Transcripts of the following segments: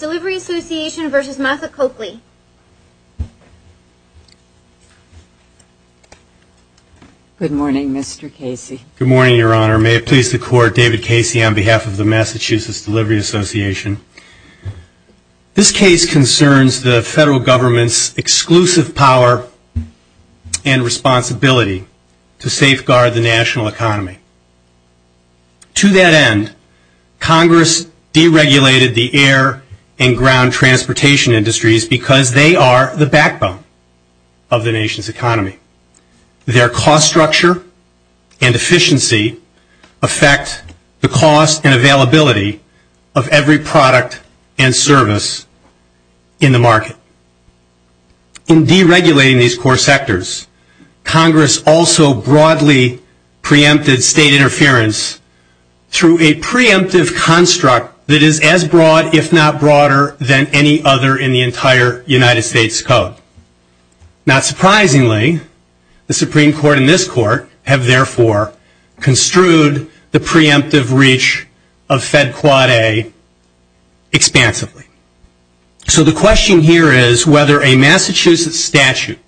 Good morning, Mr. Casey. Good morning, Your Honor. May it please the Court, David Casey on behalf of the Massachusetts Delivery Association. This case concerns the federal government's exclusive power and responsibility to safeguard the national economy. To that end, Congress deregulated the air and ground transportation industries because they are the backbone of the nation's economy. Their cost structure and efficiency affect the cost and availability of every product and service in the market. In deregulating these core sectors, Congress also broadly preempted state interference through a preemptive construct that is as broad, if not broader, than any other in the entire United States Code. Not surprisingly, the Supreme Court and this Court have therefore construed the preemptive reach of Fed Quad A expansively. So the question here is whether a Massachusetts statute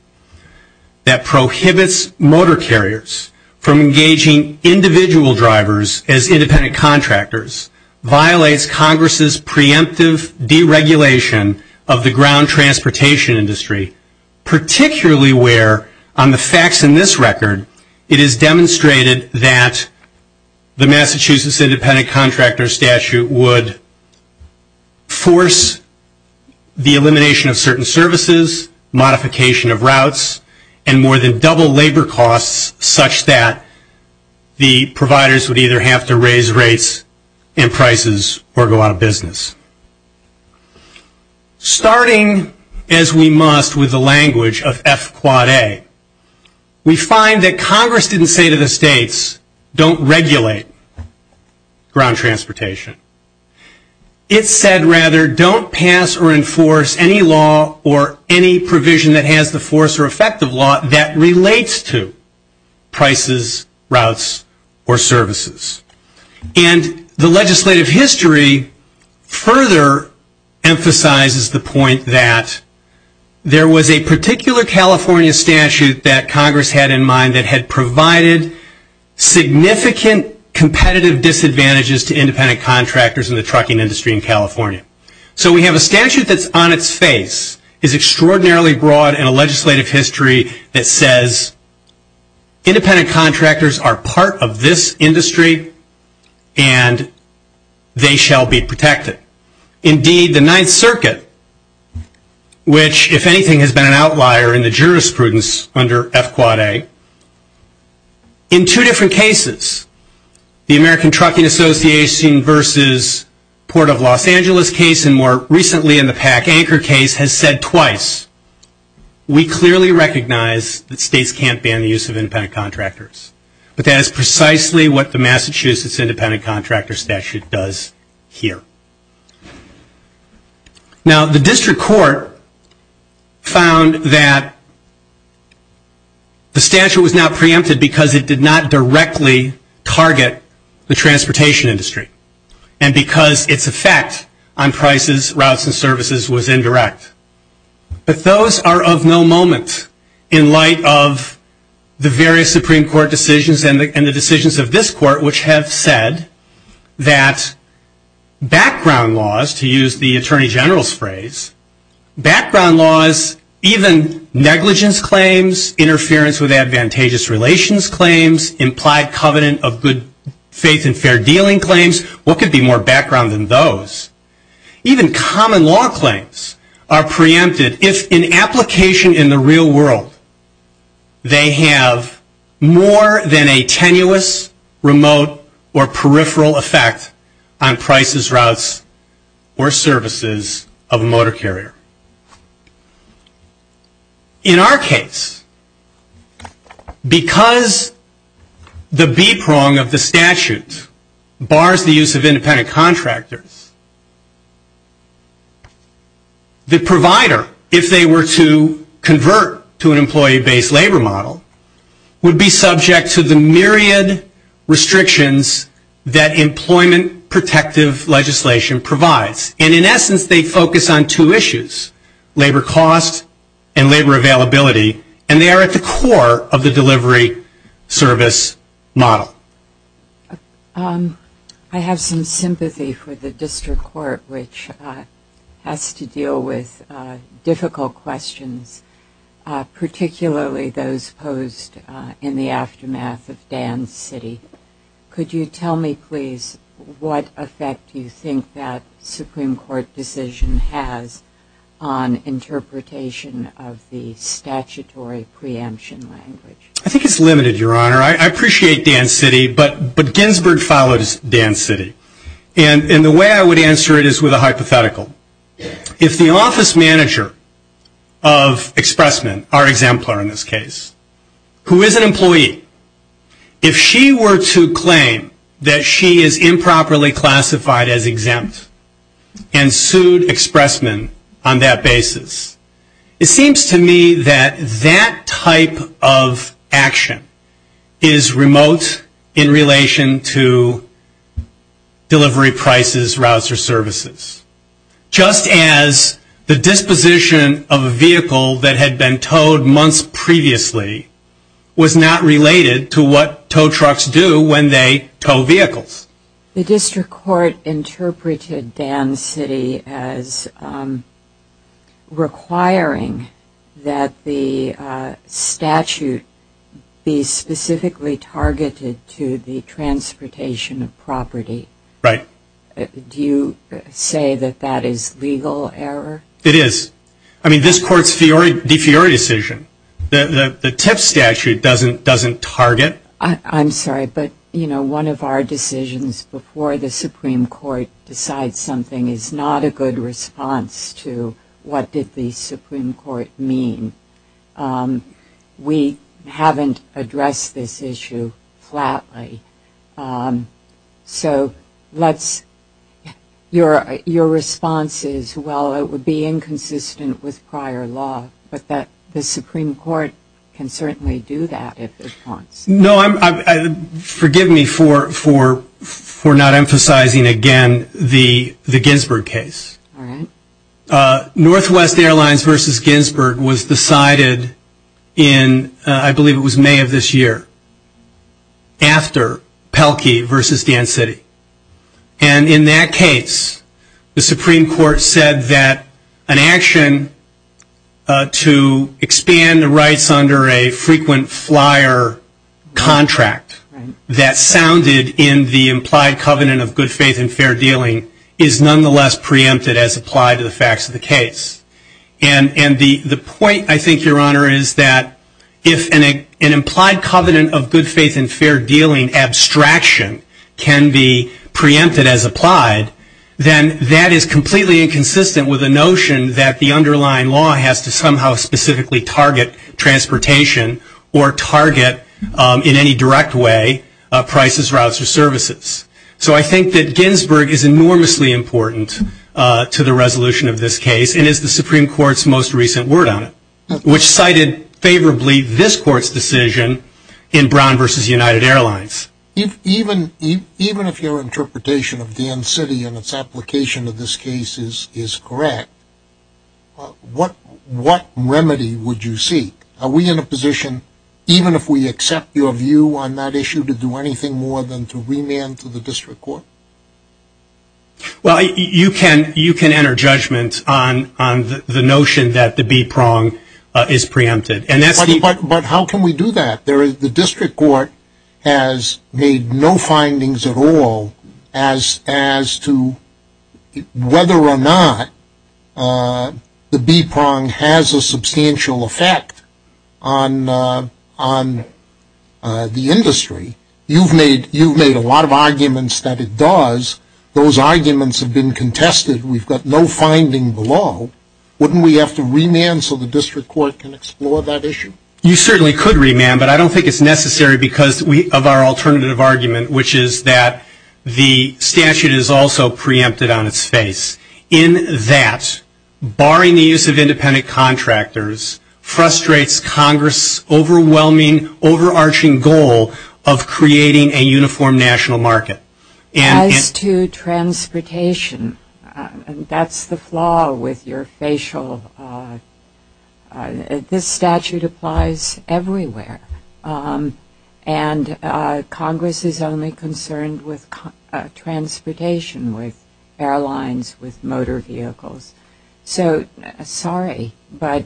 that prohibits motor carriers from engaging individual drivers as independent contractors violates Congress's preemptive deregulation of the ground transportation industry, particularly where, on the facts in this record, it is demonstrated that the Massachusetts independent contractor statute would force the elimination of certain services, modification of routes, and more than double labor costs such that the providers would either have to raise rates and prices or go out of business. Starting, as we must, with the language of F Quad A, we find that Congress didn't say to the states, don't regulate ground transportation. It said, rather, don't pass or enforce any law or any provision that has the force or effect of law that relates to prices, routes, or services. And the legislative history further emphasizes the point that there was a particular California statute that Congress had in mind that had provided significant competitive disadvantages to independent contractors in the trucking industry in California. So we have a statute that's on its face, is extraordinarily broad in a legislative history that says independent contractors are part of this industry and they shall be protected. Indeed, the Ninth Circuit, which, if anything, has been an outlier in the jurisprudence under F Quad A, in two different cases, the American Trucking Association versus Port of Los Angeles case, and more recently in the PAC Anchor case, has said twice, we clearly recognize that states can't ban the use of independent contractors. But that is precisely what the Massachusetts Independent Contractor Statute does here. Now, the district court found that the statute was not preempted because it did not directly target the transportation industry and because its effect on prices, routes, and services was indirect. But those are of no moment in light of the various Supreme Court decisions and the decisions of this court, which have said that background laws, to use the Attorney General's phrase, background laws, even negligence claims, interference with advantageous relations claims, implied covenant of good faith and fair dealing claims, what could be more background than those? Even common law claims are preempted if in application in the real world they have more than a tenuous, remote, or peripheral effect on prices, routes, or services of a motor carrier. In our case, because the B-prong of the statute bars the use of independent contractors, the provider, if they were to convert to an employee-based labor model, would be subject to the myriad restrictions that employment protective legislation provides. And in essence, they focus on two issues, labor cost and labor availability, and they are at the core of the delivery service model. I have some sympathy for the district court, which has to deal with difficult questions, particularly those posed in the aftermath of Dan's city. Could you tell me, please, what effect do you think that Supreme Court decision has on interpretation of the statutory preemption language? I think it's limited, Your Honor. I appreciate Dan's city, but Ginsburg follows Dan's city. And the way I would answer it is with a hypothetical. If the office manager of Expressman, our exemplar in this case, who is an employee, if she were to claim that she is improperly classified as exempt and sued Expressman on that basis, it seems to me that that type of action is remote in relation to delivery prices, routes, or services. Just as the disposition of a vehicle that had been towed months previously was not related to what tow trucks do when they tow vehicles. The district court interpreted Dan's city as requiring that the statute be specifically targeted to the transportation of property. Right. Do you say that that is legal error? It is. I mean, this Court's de fiore decision. The TIF statute doesn't target. I'm sorry, but, you know, one of our decisions before the Supreme Court decides something is not a good response to what did the Supreme Court mean. We haven't addressed this issue flatly. So let's, your response is, well, it would be inconsistent with prior law, but the Supreme Court can certainly do that if it wants. No, forgive me for not emphasizing again the Ginsburg case. All right. Northwest Airlines versus Ginsburg was decided in, I believe it was May of this year, after Pelkey versus Dan City. And in that case, the Supreme Court said that an action to expand the rights under a frequent flyer contract that sounded in the implied covenant of good faith and fair dealing is nonetheless preempted as applied to the facts of the case. And the point, I think, Your Honor, is that if an implied covenant of good faith and fair dealing abstraction can be preempted as applied, then that is completely inconsistent with the notion that the underlying law has to somehow specifically target transportation or target in any direct way prices, routes, or services. So I think that Ginsburg is enormously important to the resolution of this case and is the Supreme Court's most recent word on it, which cited favorably this Court's decision in Brown versus United Airlines. Even if your interpretation of Dan City and its application of this case is correct, what remedy would you seek? Are we in a position, even if we accept your view on that issue, to do anything more than to remand to the district court? Well, you can enter judgment on the notion that the B-prong is preempted. But how can we do that? The district court has made no findings at all as to whether or not the B-prong has a substantial effect on the industry. You've made a lot of arguments that it does. Those arguments have been contested. We've got no finding below. Wouldn't we have to remand so the district court can explore that issue? You certainly could remand, but I don't think it's necessary because of our alternative argument, which is that the statute is also preempted on its face in that barring the use of independent contractors frustrates Congress' overwhelming, overarching goal of creating a uniform national market. As to transportation, that's the flaw with your facial. This statute applies everywhere. And Congress is only concerned with transportation, with airlines, with motor vehicles. So, sorry, but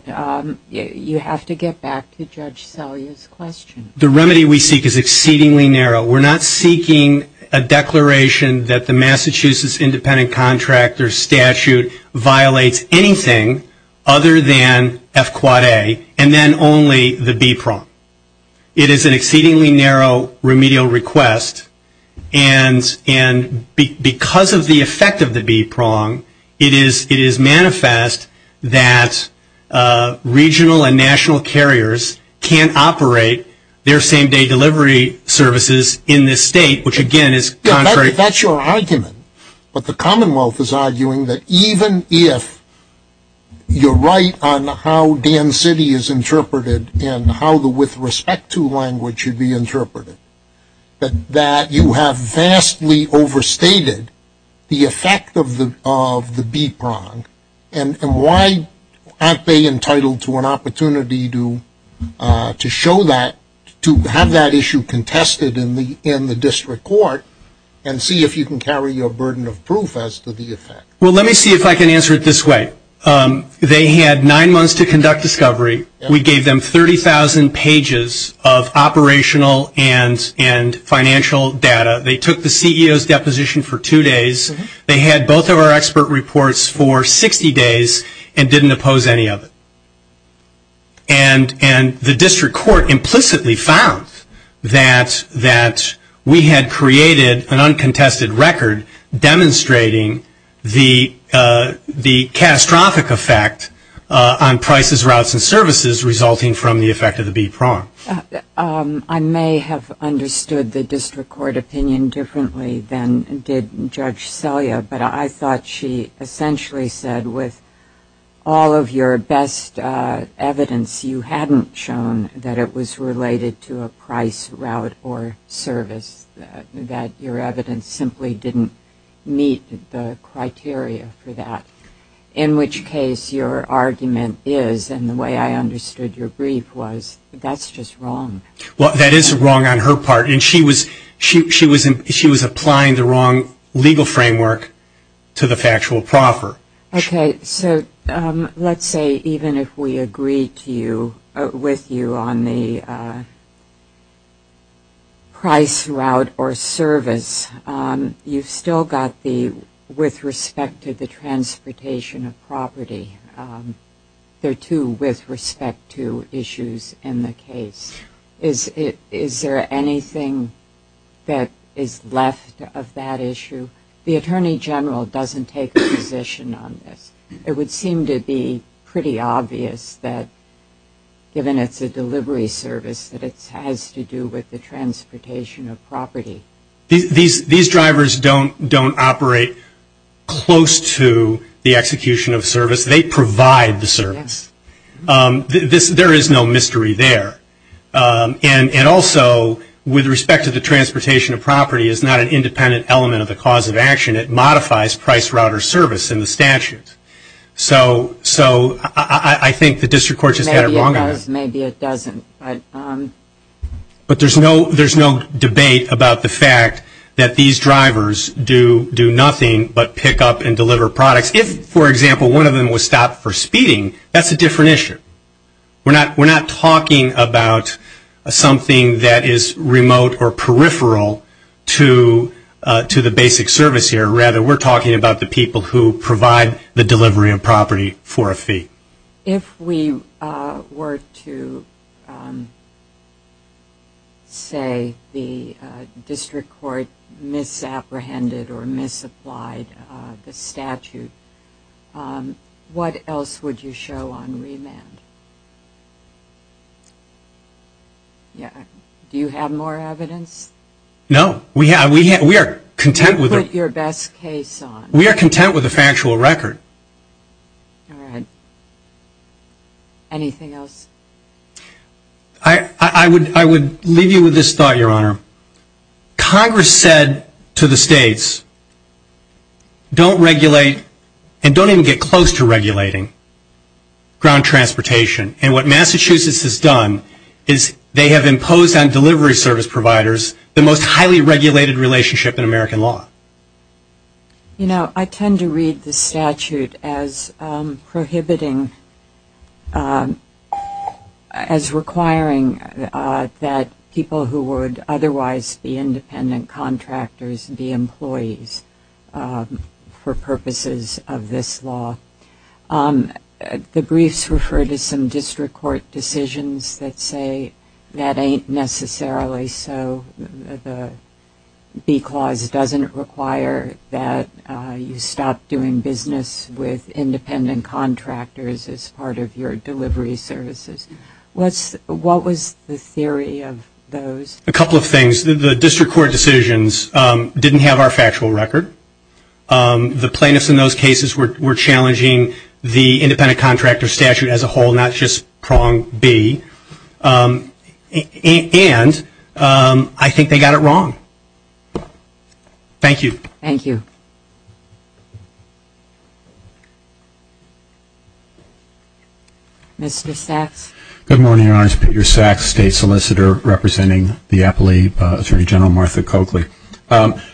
you have to get back to Judge Salyer's question. The remedy we seek is exceedingly narrow. We're not seeking a declaration that the Massachusetts independent contractor statute violates anything other than F-Quad A and then only the B-prong. It is an exceedingly narrow remedial request. And because of the effect of the B-prong, it is manifest that regional and national carriers can't operate their same-day delivery services in this state, which, again, is contrary. That's your argument. But the Commonwealth is arguing that even if you're right on how Dan City is interpreted and how the with respect to language should be interpreted, that you have vastly overstated the effect of the B-prong. And why aren't they entitled to an opportunity to show that, to have that issue contested in the district court and see if you can carry your burden of proof as to the effect? Well, let me see if I can answer it this way. They had nine months to conduct discovery. We gave them 30,000 pages of operational and financial data. They took the CEO's deposition for two days. They had both of our expert reports for 60 days and didn't oppose any of it. And the district court implicitly found that we had created an uncontested record demonstrating the catastrophic effect on prices, routes, and services resulting from the effect of the B-prong. I may have understood the district court opinion differently than did Judge Selya, but I thought she essentially said with all of your best evidence, you hadn't shown that it was related to a price, route, or service, that your evidence simply didn't meet the criteria for that, in which case your argument is, and the way I understood your brief was, that's just wrong. Well, that is wrong on her part, and she was applying the wrong legal framework to the factual proffer. Okay, so let's say even if we agree with you on the price, route, or service, you've still got the with respect to the transportation of property. There are two with respect to issues in the case. Is there anything that is left of that issue? The Attorney General doesn't take a position on this. It would seem to be pretty obvious that, given it's a delivery service, that it has to do with the transportation of property. These drivers don't operate close to the execution of service. They provide the service. There is no mystery there. And also, with respect to the transportation of property, it's not an independent element of the cause of action. It modifies price, route, or service in the statute. So I think the district court just had it wrong on that. Maybe it does, maybe it doesn't. But there's no debate about the fact that these drivers do nothing but pick up and deliver products. If, for example, one of them was stopped for speeding, that's a different issue. We're not talking about something that is remote or peripheral to the basic service here. Rather, we're talking about the people who provide the delivery of property for a fee. If we were to say the district court misapprehended or misapplied the statute, what else would you show on remand? Do you have more evidence? No. We are content with a factual record. All right. Anything else? I would leave you with this thought, Your Honor. Congress said to the states, don't regulate and don't even get close to regulating ground transportation. And what Massachusetts has done is they have imposed on delivery service providers the most highly regulated relationship in American law. You know, I tend to read the statute as prohibiting, as requiring that people who would otherwise be independent contractors be employees for purposes of this law. The briefs refer to some district court decisions that say that ain't necessarily so. The B clause doesn't require that you stop doing business with independent contractors as part of your delivery services. What was the theory of those? A couple of things. The district court decisions didn't have our factual record. The plaintiffs in those cases were challenging the independent contractor statute as a whole, not just prong B. And I think they got it wrong. Thank you. Thank you. Mr. Sachs. Good morning, Your Honor. Peter Sachs, state solicitor representing the Appalachian Attorney General, Martha Coakley.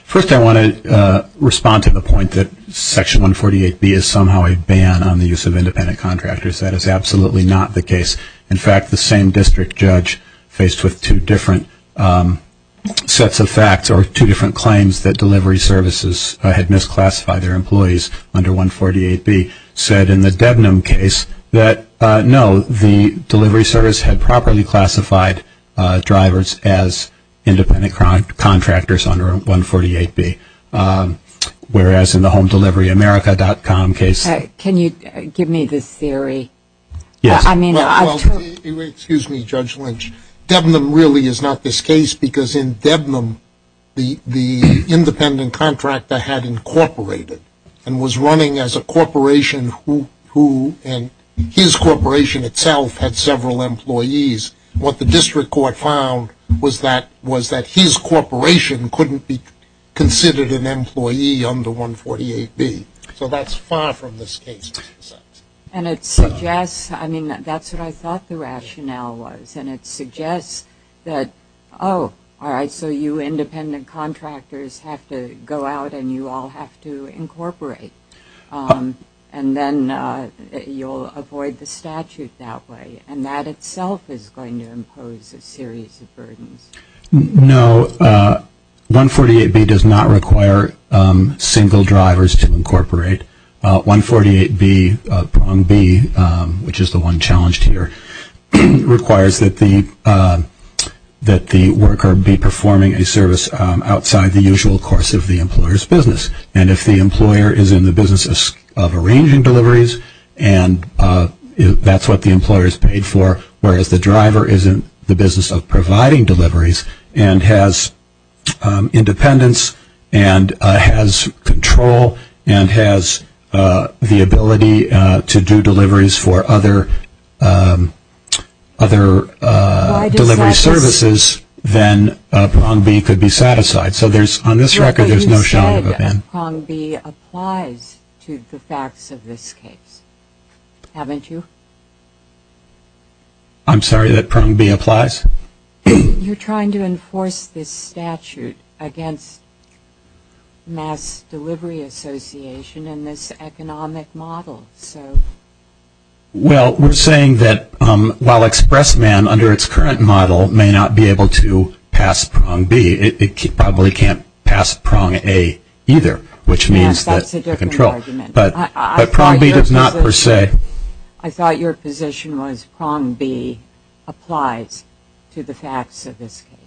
First, I want to respond to the point that Section 148B is somehow a ban on the use of independent contractors. That is absolutely not the case. In fact, the same district judge faced with two different sets of facts or two different claims that delivery services had misclassified their employees under 148B said in the Debnam case that, no, the delivery service had properly classified drivers as independent contractors under 148B, whereas in the HomeDeliveryAmerica.com case. Can you give me the theory? Yes. Excuse me, Judge Lynch. Debnam really is not this case because in Debnam, the independent contractor had incorporated and was running as a corporation and his corporation itself had several employees. What the district court found was that his corporation couldn't be considered an employee under 148B. So that's far from this case. And it suggests, I mean, that's what I thought the rationale was. And it suggests that, oh, all right, so you independent contractors have to go out and you all have to incorporate. And then you'll avoid the statute that way. And that itself is going to impose a series of burdens. No. 148B does not require single drivers to incorporate. 148B, prong B, which is the one challenged here, requires that the worker be performing a service outside the usual course of the employer's business. And if the employer is in the business of arranging deliveries, and that's what the employer is paid for, whereas the driver is in the business of providing deliveries and has independence and has control and has the ability to do deliveries for other delivery services, then prong B could be satisfied. You said prong B applies to the facts of this case, haven't you? I'm sorry, that prong B applies? You're trying to enforce this statute against Mass Delivery Association and this economic model. Well, we're saying that while Expressman, under its current model, may not be able to pass prong B, it probably can't pass prong A either, which means that the control. Yes, that's a different argument. But prong B does not per se. I thought your position was prong B applies to the facts of this case.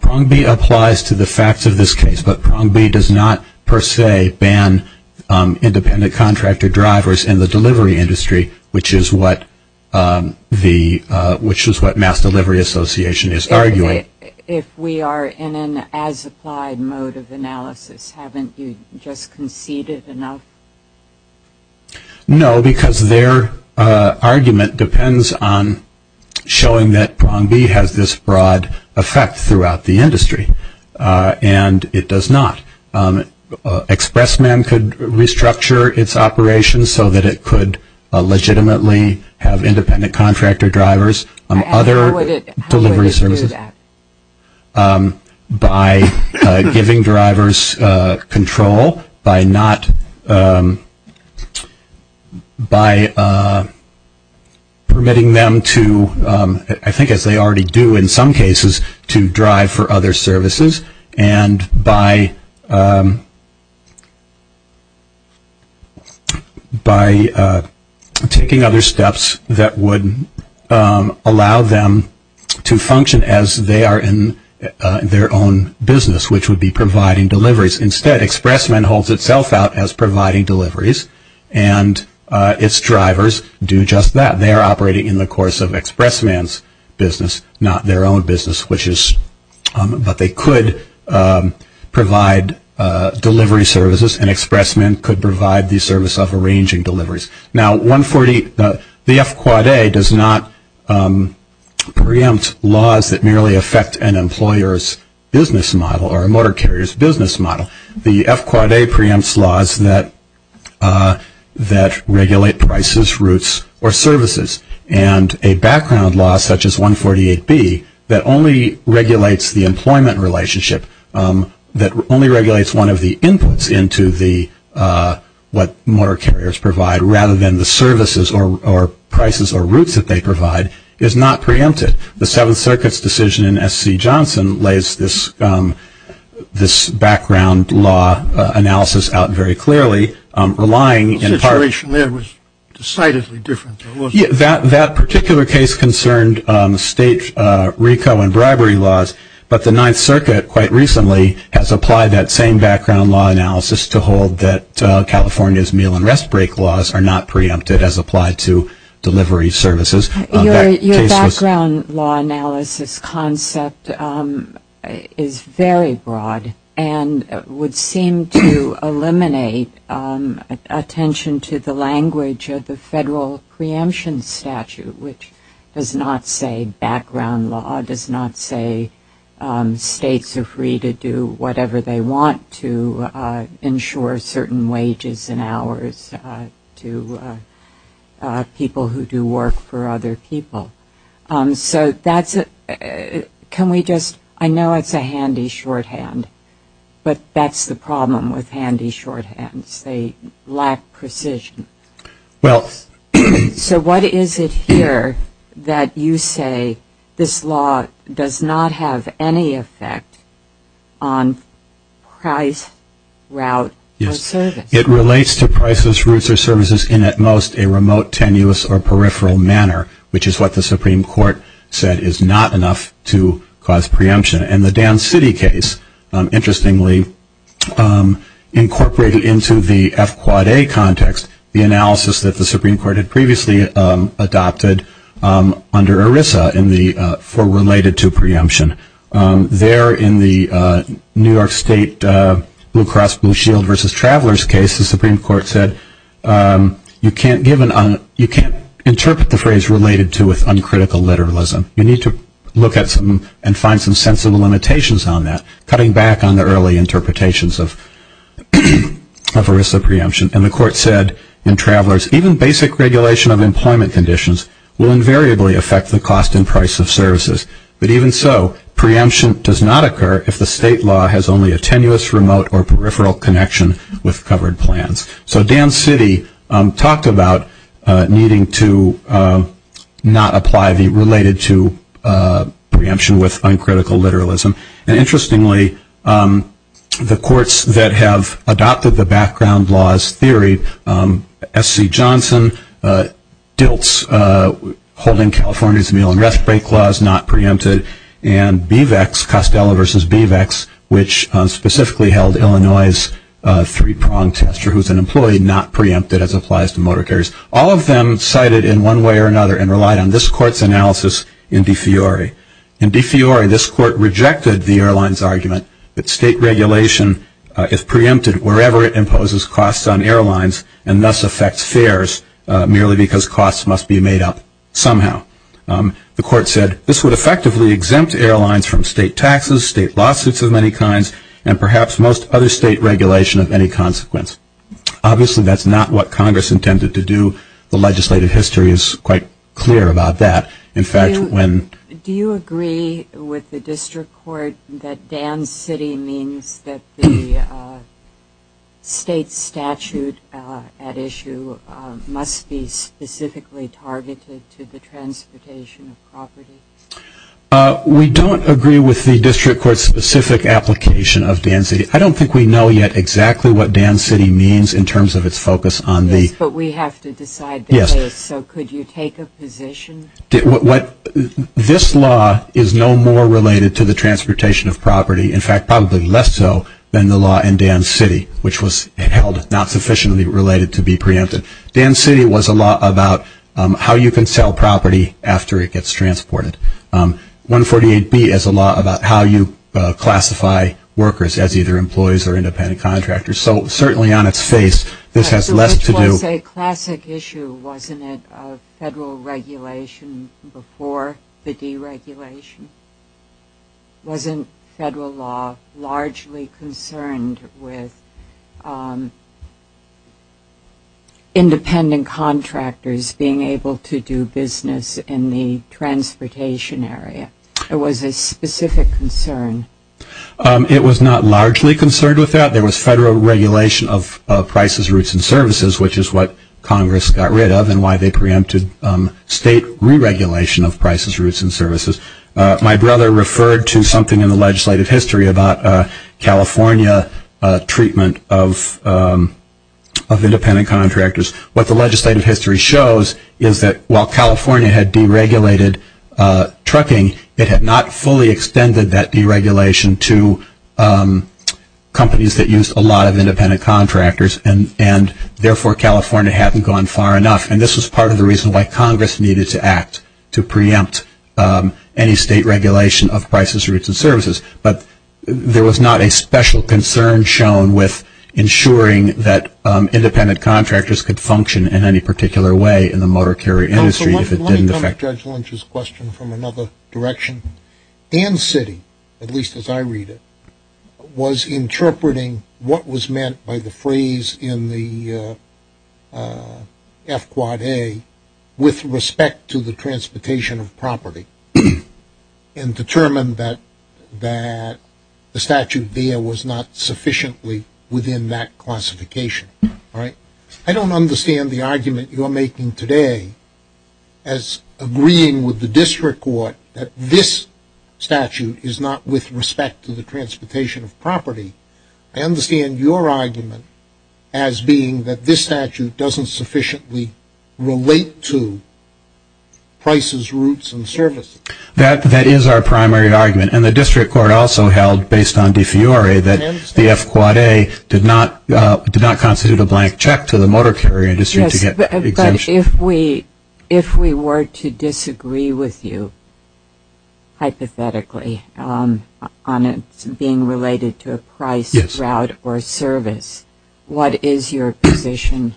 Prong B applies to the facts of this case, but prong B does not per se ban independent contractor drivers in the delivery industry, which is what Mass Delivery Association is arguing. If we are in an as-applied mode of analysis, haven't you just conceded enough? No, because their argument depends on showing that prong B has this broad effect throughout the industry, and it does not. Expressman could restructure its operations so that it could legitimately have independent contractor drivers on other delivery services by giving drivers control by permitting them to, I think as they already do in some cases, to drive for other services and by taking other steps that would allow them to function as they are in their own business, which would be providing deliveries. Instead, Expressman holds itself out as providing deliveries, and its drivers do just that. They are operating in the course of Expressman's business, not their own business, but they could provide delivery services, and Expressman could provide the service of arranging deliveries. Now, the F-Quad A does not preempt laws that merely affect an employer's business model or a motor carrier's business model. The F-Quad A preempts laws that regulate prices, routes, or services, and a background law such as 148B that only regulates the employment relationship, that only regulates one of the inputs into what motor carriers provide, rather than the services or prices or routes that they provide, is not preempted. The Seventh Circuit's decision in S.C. Johnson lays this background law analysis out very clearly, relying in part- The situation there was decidedly different. That particular case concerned state RICO and bribery laws, but the Ninth Circuit quite recently has applied that same background law analysis to hold that California's meal and rest break laws are not preempted as applied to delivery services. Your background law analysis concept is very broad and would seem to eliminate attention to the language of the federal preemption statute, which does not say background law, does not say states are free to do whatever they want to ensure certain wages and hours to people who do work for other people. So that's a- can we just- I know it's a handy shorthand, but that's the problem with handy shorthands. They lack precision. Well- So what is it here that you say this law does not have any effect on price, route, or service? It relates to prices, routes, or services in at most a remote, tenuous, or peripheral manner, which is what the Supreme Court said is not enough to cause preemption. And the Down City case, interestingly, incorporated into the F-Quad-A context the analysis that the Supreme Court had previously adopted under ERISA in the- for related to preemption. There in the New York State Blue Cross Blue Shield versus travelers case, the Supreme Court said you can't give an- you can't interpret the phrase related to with uncritical literalism. You need to look at some- and find some sensible limitations on that, cutting back on the early interpretations of ERISA preemption. And the court said in travelers, even basic regulation of employment conditions will invariably affect the cost and price of services. But even so, preemption does not occur if the state law has only a tenuous, remote, or peripheral connection with covered plans. So Down City talked about needing to not apply the- related to preemption with uncritical literalism. And interestingly, the courts that have adopted the background laws theory, SC Johnson, DILTS, holding California's meal and rest break laws not preempted, and BVEX, Costello versus BVEX, which specifically held Illinois' three-pronged test, or who's an employee not preempted as applies to motor carriers, all of them cited in one way or another and relied on this court's analysis in De Fiori. In De Fiori, this court rejected the airline's argument that state regulation, if preempted wherever it imposes costs on airlines, and thus affects fares merely because costs must be made up somehow. The court said this would effectively exempt airlines from state taxes, state lawsuits of many kinds, and perhaps most other state regulation of any consequence. Obviously, that's not what Congress intended to do. The legislative history is quite clear about that. In fact, when- Do you agree with the district court that Down City means that the state statute at issue must be specifically targeted to the transportation of property? We don't agree with the district court's specific application of Down City. I don't think we know yet exactly what Down City means in terms of its focus on the- Yes, but we have to decide the case. Yes. So could you take a position? This law is no more related to the transportation of property, in fact, probably less so than the law in Down City, which was held not sufficiently related to be preempted. Down City was a law about how you can sell property after it gets transported. 148B is a law about how you classify workers as either employees or independent contractors. So certainly on its face, this has less to do- So it was a classic issue, wasn't it, of federal regulation before the deregulation? Wasn't federal law largely concerned with independent contractors being able to do business in the transportation area? It was a specific concern. It was not largely concerned with that. There was federal regulation of prices, routes, and services, which is what Congress got rid of and why they preempted state re-regulation of prices, routes, and services. My brother referred to something in the legislative history about California treatment of independent contractors. What the legislative history shows is that while California had deregulated trucking, it had not fully extended that deregulation to companies that used a lot of independent contractors and therefore California hadn't gone far enough. And this was part of the reason why Congress needed to act to preempt any state regulation of prices, routes, and services. But there was not a special concern shown with ensuring that independent contractors could function in any particular way in the motor carrier industry if it didn't affect- Let me come to Judge Lynch's question from another direction. Ann City, at least as I read it, was interpreting what was meant by the phrase in the F-Quad A with respect to the transportation of property and determined that the statute there was not sufficiently within that classification. I don't understand the argument you're making today as agreeing with the district court that this statute is not with respect to the transportation of property. I understand your argument as being that this statute doesn't sufficiently relate to prices, routes, and services. That is our primary argument. And the district court also held, based on De Fiore, that the F-Quad A did not constitute a blank check to the motor carrier industry to get exemption. Yes, but if we were to disagree with you hypothetically on it being related to a price, route, or service, what is your position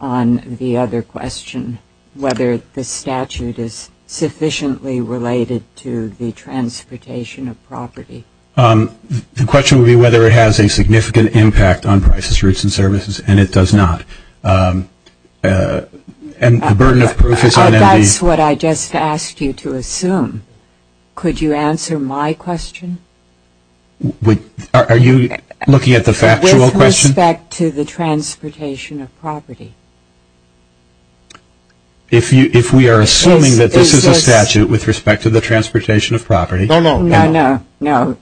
on the other question, whether the statute is sufficiently related to the transportation of property? The question would be whether it has a significant impact on prices, routes, and services, and it does not. And the burden of proof is on- That's what I just asked you to assume. Could you answer my question? Are you looking at the factual question? With respect to the transportation of property. If we are assuming that this is a statute with respect to the transportation of property- No, no. No, no.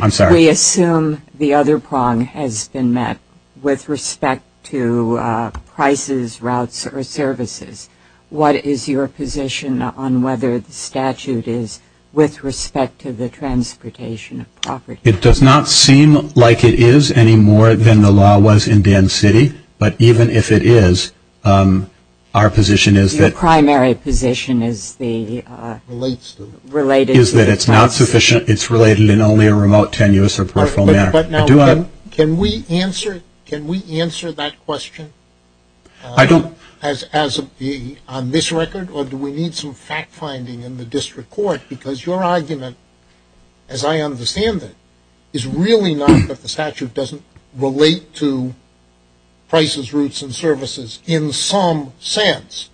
I'm sorry. We assume the other prong has been met with respect to prices, routes, or services. What is your position on whether the statute is with respect to the transportation of property? It does not seem like it is any more than the law was in Dan City, but even if it is, our position is that- Your primary position is the- Relates to- Related to- Is that it's not sufficient. It's related in only a remote, tenuous, or peripheral manner. But now, can we answer that question? I don't- On this record, or do we need some fact-finding in the district court? Because your argument, as I understand it, is really not that the statute doesn't relate to prices, routes, and services in some sense.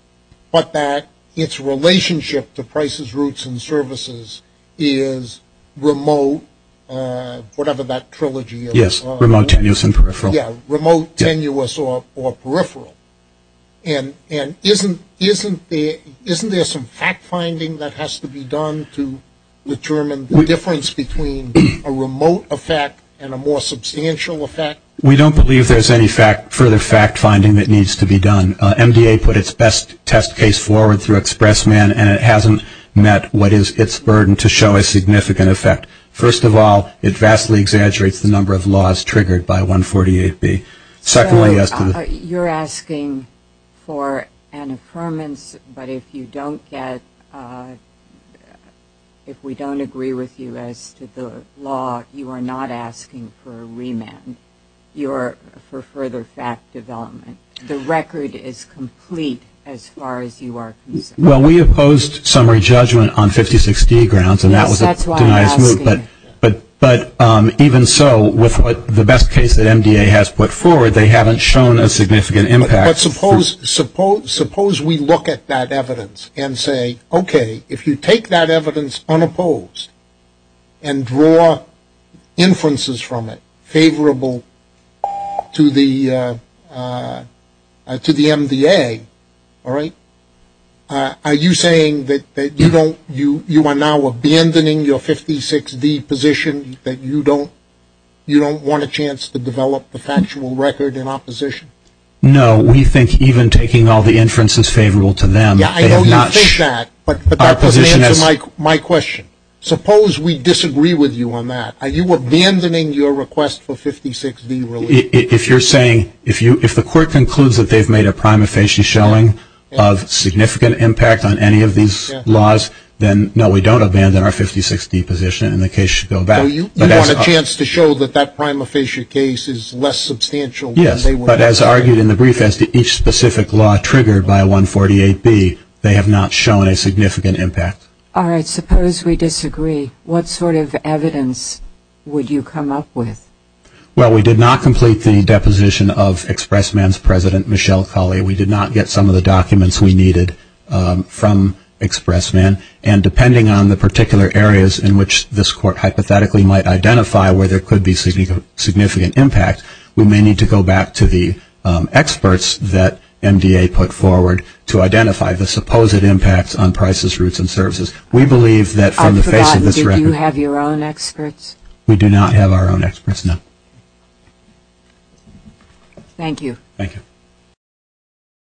But that its relationship to prices, routes, and services is remote, whatever that trilogy is. Yes, remote, tenuous, and peripheral. Yes, remote, tenuous, or peripheral. And isn't there some fact-finding that has to be done to determine the difference between a remote effect and a more substantial effect? We don't believe there's any further fact-finding that needs to be done. MDA put its best test case forward through Expressman, and it hasn't met what is its burden to show a significant effect. First of all, it vastly exaggerates the number of laws triggered by 148B. Secondly, as to the- So you're asking for an affirmance, but if you don't get-if we don't agree with you as to the law, you are not asking for a remand. You are for further fact development. The record is complete as far as you are concerned. Well, we opposed summary judgment on 5060 grounds, and that was a- But even so, with the best case that MDA has put forward, they haven't shown a significant impact. But suppose we look at that evidence and say, okay, if you take that evidence unopposed and draw inferences from it favorable to the MDA, all right, are you saying that you don't-you are now abandoning your 56D position, that you don't want a chance to develop the factual record in opposition? No, we think even taking all the inferences favorable to them- Yeah, I know you think that, but that doesn't answer my question. Suppose we disagree with you on that. Are you abandoning your request for 56D relief? If you're saying-if the court concludes that they've made a prima facie showing of significant impact on any of these laws, then no, we don't abandon our 56D position, and the case should go back. So you want a chance to show that that prima facie case is less substantial than they were- Yes, but as argued in the brief as to each specific law triggered by 148B, they have not shown a significant impact. All right, suppose we disagree. What sort of evidence would you come up with? Well, we did not complete the deposition of Expressman's president, Michelle Colley. We did not get some of the documents we needed from Expressman. And depending on the particular areas in which this court hypothetically might identify where there could be significant impact, we may need to go back to the experts that MDA put forward to identify the supposed impacts on prices, routes, and services. We believe that from the face of this record- I've forgotten, did you have your own experts? We do not have our own experts, no. Thank you. Thank you.